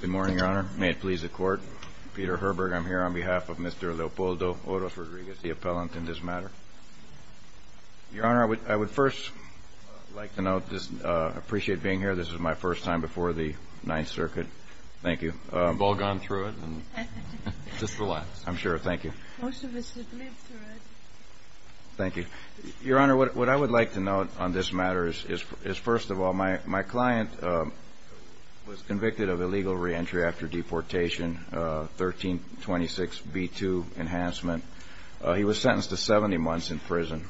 Good morning, Your Honor. May it please the Court. Peter Herberg, I'm here on behalf of Mr. Leopoldo Oros-Rodriguez, the appellant in this matter. Your Honor, I would first like to note, just appreciate being here. This is my first time before the Ninth Circuit. Thank you. We've all gone through it. Just relax. I'm sure. Thank you. Most of us have lived through it. Thank you. Your Honor, what I would like to note on this matter is, first of all, my client was convicted of illegal reentry after deportation, 1326b2 enhancement. He was sentenced to 70 months in prison,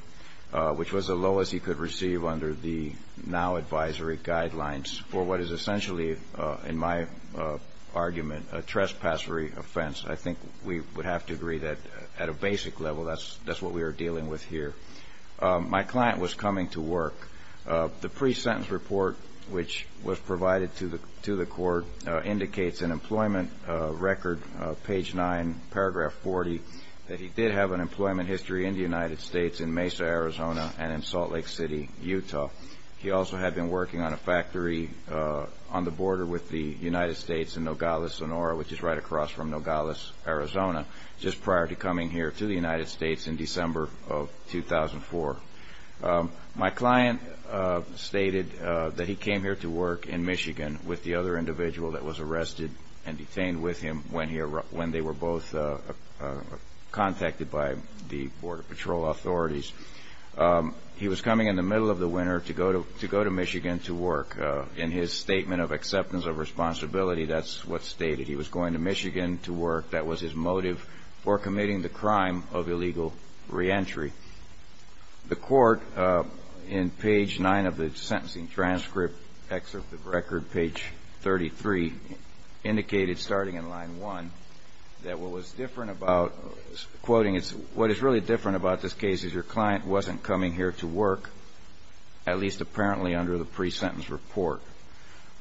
which was the lowest he could receive under the now advisory guidelines for what is essentially, in my argument, a trespassery offense. I think we would have to agree that, at a basic level, that's what we are dealing with here. My client was coming to work. The pre-sentence report, which was provided to the Court, indicates in Employment Record, page 9, paragraph 40, that he did have an employment history in the United States in Mesa, Arizona, and in Salt Lake City, Utah. He also had been working on a factory on the border with the United States in Nogales, Sonora, which is right across from Nogales, Arizona, just prior to coming here to the United States in December of 2004. My client stated that he came here to work in Michigan with the other individual that was arrested and detained with him when they were both contacted by the Border Patrol authorities. He was coming in the middle of the winter to go to Michigan to work. In his statement of acceptance of responsibility, that's what's stated. He was going to Michigan to work. That was his motive for committing the crime of illegal reentry. The Court, in page 9 of the Sentencing Transcript, Excerpt of Record, page 33, indicated, starting in line 1, that what is really different about this case is your client wasn't coming here to work, at least apparently under the pre-sentence report.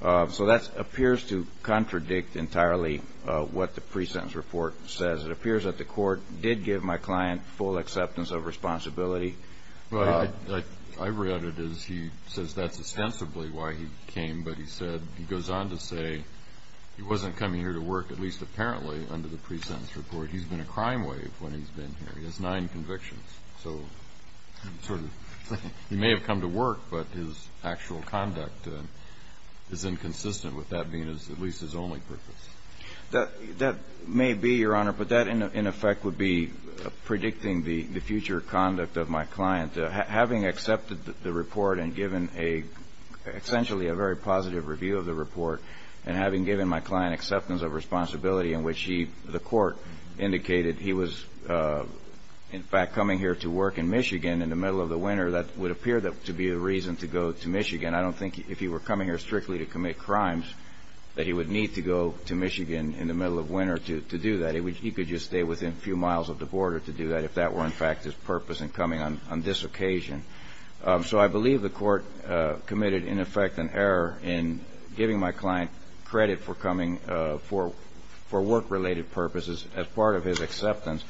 So that appears to contradict entirely what the pre-sentence report says. It appears that the Court did give my client full acceptance of responsibility. Well, I read it as he says that's ostensibly why he came. But he said, he goes on to say he wasn't coming here to work, at least apparently under the pre-sentence report. He's been a crime wave when he's been here. He has nine convictions. So sort of he may have come to work, but his actual conduct is inconsistent with that being at least his only purpose. That may be, Your Honor, but that, in effect, would be predicting the future conduct of my client. Having accepted the report and given a, essentially a very positive review of the report, and having given my client acceptance of responsibility in which he, the Court, indicated he was, in fact, coming here to work in Michigan in the middle of the winter, that would appear to be a reason to go to Michigan. I don't think if he were coming here strictly to commit crimes that he would need to go to Michigan in the middle of winter to do that. He could just stay within a few miles of the border to do that if that were, in fact, his purpose in coming on this occasion. So I believe the Court committed, in effect, an error in giving my client credit for coming for work-related purposes as part of his acceptance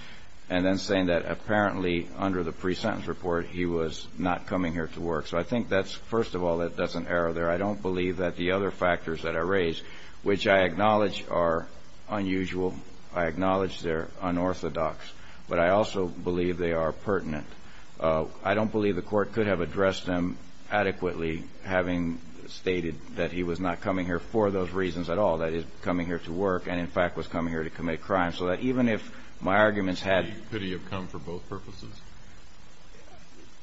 and then saying that apparently under the pre-sentence report he was not coming here to work. So I think that's, first of all, that's an error there. I don't believe that the other factors that are raised, which I acknowledge are unusual, I acknowledge they're unorthodox, but I also believe they are pertinent. I don't believe the Court could have addressed them adequately having stated that he was not coming here for those reasons at all, that he was coming here to work and, in fact, was coming here to commit crimes. So that even if my arguments had- Could he have come for both purposes?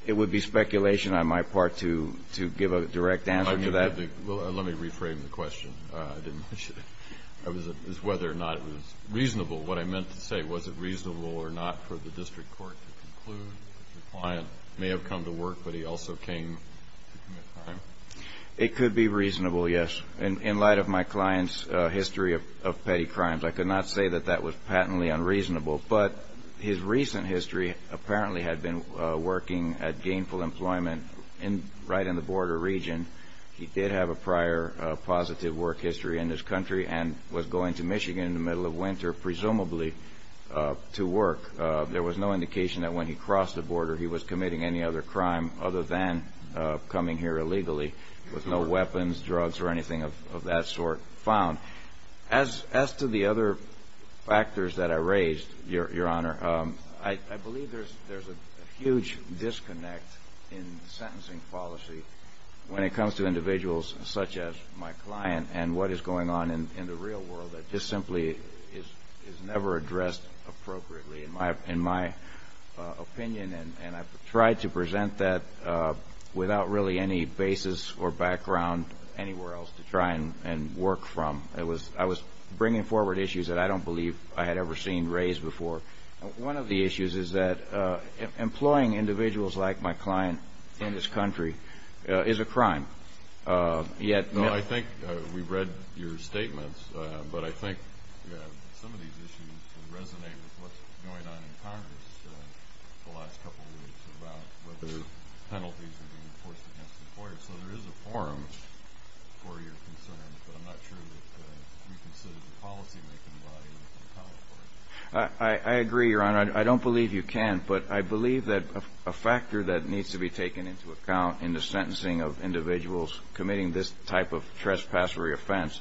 It would be speculation on my part to give a direct answer to that. Well, let me reframe the question. I didn't mention it. It was whether or not it was reasonable. What I meant to say, was it reasonable or not for the District Court to conclude that your client may have come to work, but he also came to commit a crime? It could be reasonable, yes. In light of my client's history of petty crimes, I could not say that that was patently unreasonable. But his recent history apparently had been working at Gainful Employment right in the border region. He did have a prior positive work history in this country and was going to Michigan in the middle of winter, presumably to work. There was no indication that when he crossed the border he was committing any other crime other than coming here illegally, with no weapons, drugs, or anything of that sort found. As to the other factors that I raised, Your Honor, I believe there's a huge disconnect in sentencing policy when it comes to individuals such as my client and what is going on in the real world that just simply is never addressed appropriately, in my opinion. And I've tried to present that without really any basis or background anywhere else to try and work from. I was bringing forward issues that I don't believe I had ever seen raised before. One of the issues is that employing individuals like my client in this country is a crime. I think we've read your statements, but I think some of these issues resonate with what's going on in Congress the last couple of weeks about whether penalties are being enforced against employers. So there is a forum for your concerns, but I'm not sure that you consider the policymaking body to account for it. I agree, Your Honor. I don't believe you can. But I believe that a factor that needs to be taken into account in the sentencing of individuals committing this type of trespassory offense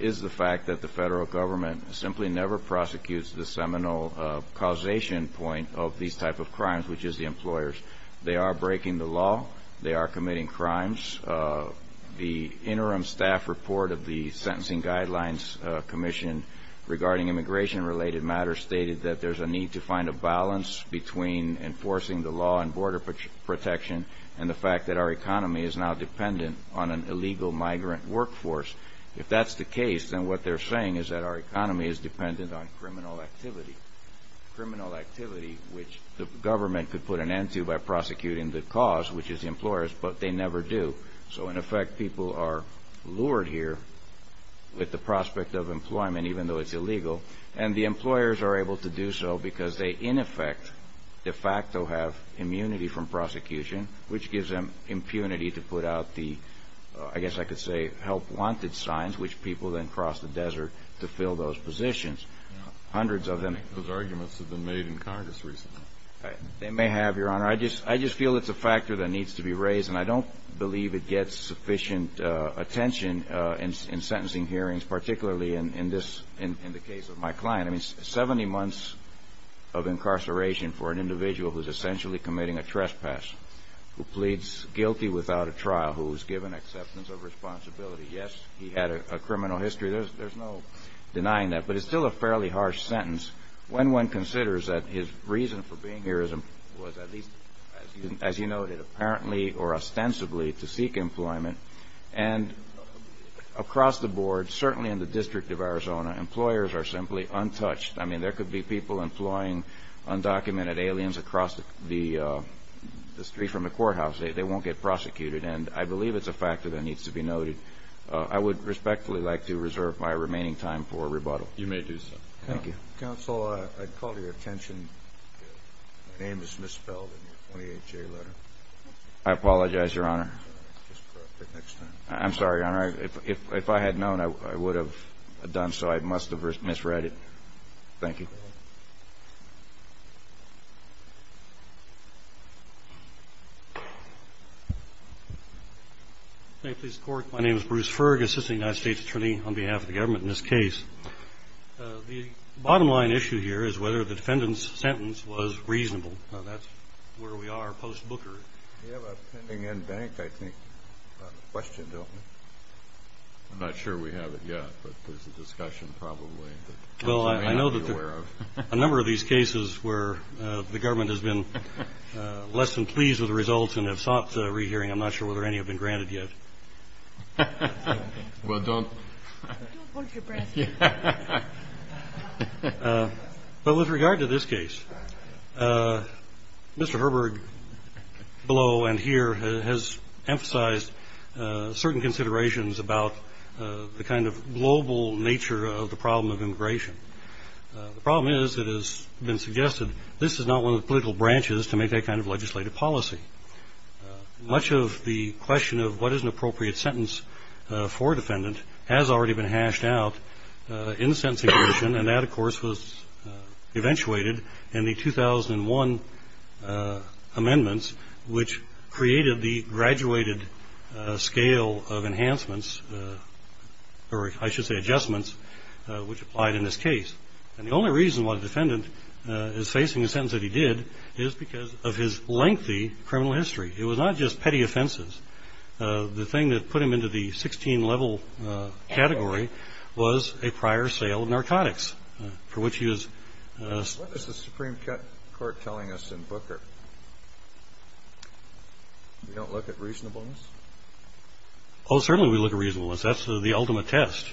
is the fact that the federal government simply never prosecutes the seminal causation point of these type of crimes, which is the employers. They are breaking the law. They are committing crimes. The interim staff report of the Sentencing Guidelines Commission regarding immigration-related matters stated that there's a need to find a balance between enforcing the law on border protection and the fact that our economy is now dependent on an illegal migrant workforce. If that's the case, then what they're saying is that our economy is dependent on criminal activity, criminal activity which the government could put an end to by prosecuting the cause, which is the employers, but they never do. So, in effect, people are lured here with the prospect of employment, even though it's illegal, and the employers are able to do so because they, in effect, de facto have immunity from prosecution, which gives them impunity to put out the, I guess I could say, help-wanted signs, which people then cross the desert to fill those positions. Those arguments have been made in Congress recently. They may have, Your Honor. I just feel it's a factor that needs to be raised, and I don't believe it gets sufficient attention in sentencing hearings, particularly in the case of my client. Seventy months of incarceration for an individual who's essentially committing a trespass, who pleads guilty without a trial, who was given acceptance of responsibility. Yes, he had a criminal history. There's no denying that, but it's still a fairly harsh sentence. When one considers that his reason for being here was at least, as you noted, apparently or ostensibly to seek employment, and across the board, certainly in the District of Arizona, employers are simply untouched. I mean, there could be people employing undocumented aliens across the street from the courthouse. They won't get prosecuted, and I believe it's a factor that needs to be noted. I would respectfully like to reserve my remaining time for rebuttal. You may do so. Thank you. Mr. Counsel, I'd call your attention. My name is misspelled in your 28-J letter. I apologize, Your Honor. Just correct it next time. I'm sorry, Your Honor. If I had known, I would have done so. I must have misread it. Thank you. May it please the Court. My name is Bruce Ferg, assistant United States attorney on behalf of the government in this case. The bottom line issue here is whether the defendant's sentence was reasonable. Now, that's where we are post-Booker. We have a pending en banc, I think, question, don't we? I'm not sure we have it yet, but there's a discussion probably that we may not be aware of. Well, I know that a number of these cases where the government has been less than pleased with the results and have sought a rehearing, I'm not sure whether any have been granted yet. Well, don't. Don't hold your breath here. But with regard to this case, Mr. Herberg below and here has emphasized certain considerations about the kind of global nature of the problem of immigration. The problem is it has been suggested this is not one of the political branches to make that kind of legislative policy. Much of the question of what is an appropriate sentence for a defendant has already been hashed out in the sentencing provision, and that, of course, was eventuated in the 2001 amendments, which created the graduated scale of enhancements, or I should say adjustments, which applied in this case. And the only reason why the defendant is facing a sentence that he did is because of his lengthy criminal history. It was not just petty offenses. The thing that put him into the 16-level category was a prior sale of narcotics, for which he was. What is the Supreme Court telling us in Booker? We don't look at reasonableness? Oh, certainly we look at reasonableness. That's the ultimate test.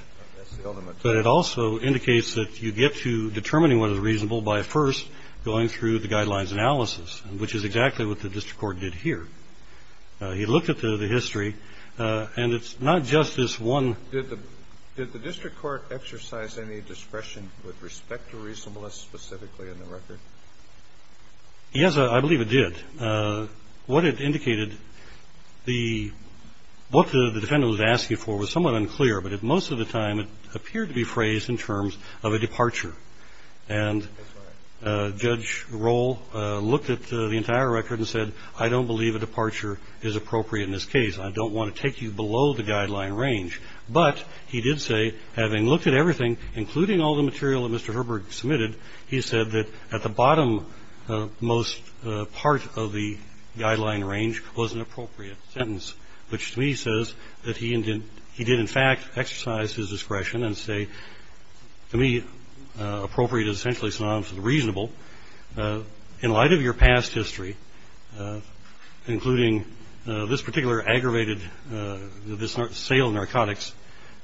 But it also indicates that you get to determining what is reasonable by first going through the guidelines analysis, which is exactly what the district court did here. He looked at the history, and it's not just this one. Did the district court exercise any discretion with respect to reasonableness specifically in the record? Yes, I believe it did. What it indicated, what the defendant was asking for was somewhat unclear, but most of the time it appeared to be phrased in terms of a departure. And Judge Roll looked at the entire record and said, I don't believe a departure is appropriate in this case. I don't want to take you below the guideline range. But he did say, having looked at everything, including all the material that Mr. Herberg submitted, he said that at the bottom most part of the guideline range was an appropriate sentence, which to me says that he did in fact exercise his discretion and say, to me, appropriate is essentially synonymous with reasonable. In light of your past history, including this particular aggravated sale of narcotics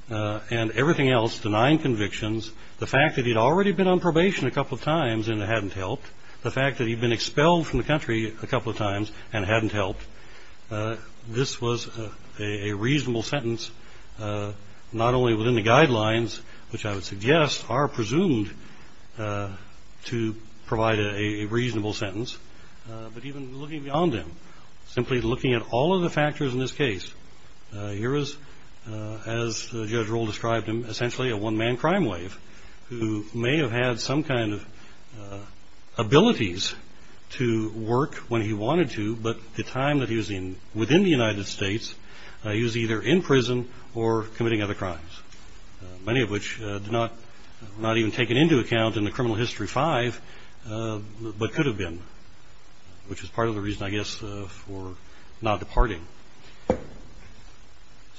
and everything else, denying convictions, the fact that he'd already been on probation a couple of times and it hadn't helped, the fact that he'd been expelled from the country a couple of times and it hadn't helped, this was a reasonable sentence, not only within the guidelines, which I would suggest are presumed to provide a reasonable sentence, but even looking beyond them, simply looking at all of the factors in this case. Here is, as Judge Roll described him, essentially a one-man crime wave, who may have had some kind of abilities to work when he wanted to, but at the time that he was within the United States, he was either in prison or committing other crimes, many of which were not even taken into account in the criminal history five, but could have been, which is part of the reason, I guess, for not departing.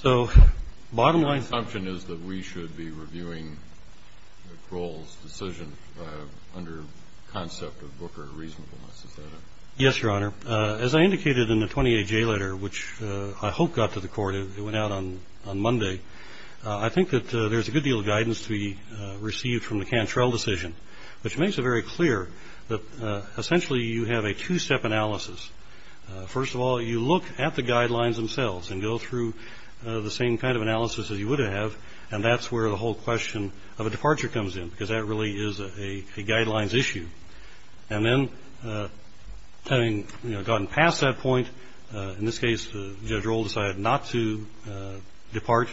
So bottom line assumption is that we should be reviewing Roll's decision under the concept of Booker reasonableness. Yes, Your Honor. As I indicated in the 28-J letter, which I hope got to the court, it went out on Monday, I think that there's a good deal of guidance to be received from the Cantrell decision, which makes it very clear that essentially you have a two-step analysis. First of all, you look at the guidelines themselves and go through the same kind of analysis that you would have, and that's where the whole question of a departure comes in, because that really is a guidelines issue. And then having gotten past that point, in this case, Judge Roll decided not to depart,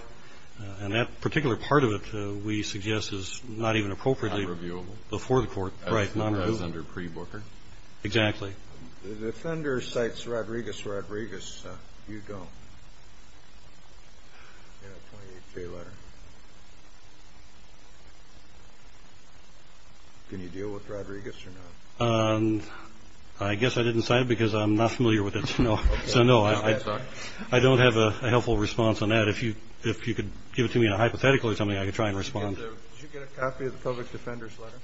and that particular part of it, we suggest, is not even appropriately before the court. Not reviewable. Right, not reviewable. As under pre-Booker. Exactly. The defender cites Rodriguez-Rodriguez. You don't. In the 28-J letter. Can you deal with Rodriguez or not? I guess I didn't sign it because I'm not familiar with it, so no. I don't have a helpful response on that. If you could give it to me in a hypothetical or something, I could try and respond. Did you get a copy of the public defender's letter?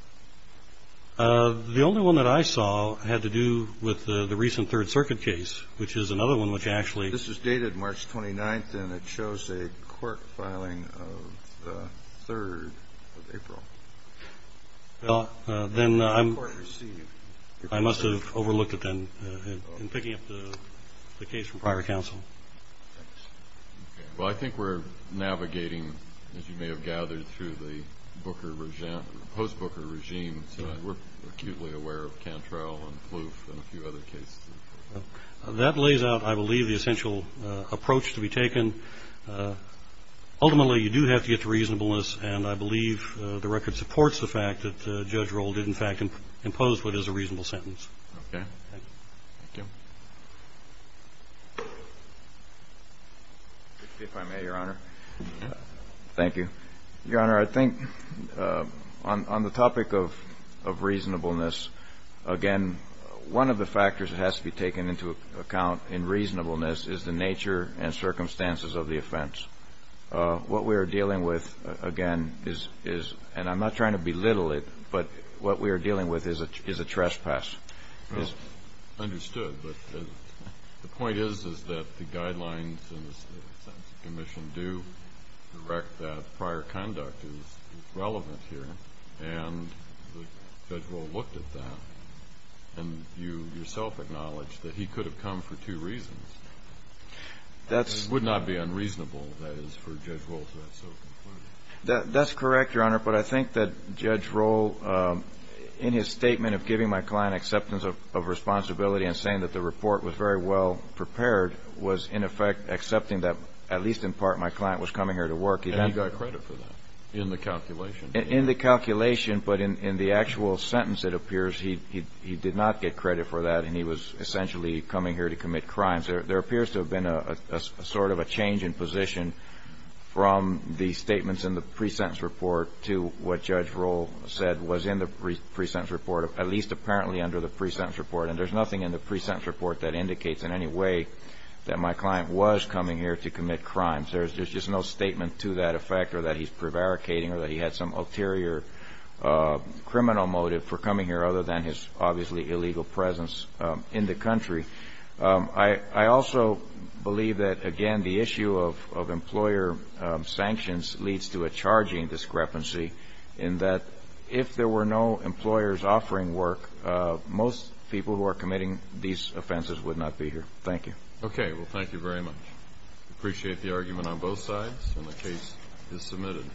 The only one that I saw had to do with the recent Third Circuit case, which is another one which actually... This is dated March 29th, and it shows a court filing of the 3rd of April. Well, then I must have overlooked it then in picking up the case from prior counsel. Well, I think we're navigating, as you may have gathered, through the post-Booker regime, so we're acutely aware of Cantrell and Plouffe and a few other cases. That lays out, I believe, the essential approach to be taken. Ultimately, you do have to get to reasonableness, and I believe the record supports the fact that Judge Roll did, in fact, impose what is a reasonable sentence. Okay. Thank you. If I may, Your Honor. Thank you. Your Honor, I think on the topic of reasonableness, again, one of the factors that has to be taken into account in reasonableness is the nature and circumstances of the offense. What we are dealing with, again, is, and I'm not trying to belittle it, but what we are dealing with is a trespass. Well, understood. But the point is, is that the guidelines in the sentence of commission do direct that prior conduct is relevant here, and Judge Roll looked at that, and you yourself acknowledged that he could have come for two reasons. That's... That's correct, Your Honor, but I think that Judge Roll, in his statement of giving my client acceptance of responsibility and saying that the report was very well prepared, was in effect accepting that at least in part my client was coming here to work. And he got credit for that in the calculation. In the calculation, but in the actual sentence, it appears he did not get credit for that, and he was essentially coming here to commit crimes. There appears to have been sort of a change in position from the statements in the pre-sentence report to what Judge Roll said was in the pre-sentence report, at least apparently under the pre-sentence report. And there's nothing in the pre-sentence report that indicates in any way that my client was coming here to commit crimes. There's just no statement to that effect or that he's prevaricating or that he had some ulterior criminal motive for coming here, other than his obviously illegal presence in the country. I also believe that, again, the issue of employer sanctions leads to a charging discrepancy in that if there were no employers offering work, most people who are committing these offenses would not be here. Thank you. Okay. Well, thank you very much. I appreciate the argument on both sides, and the case is submitted.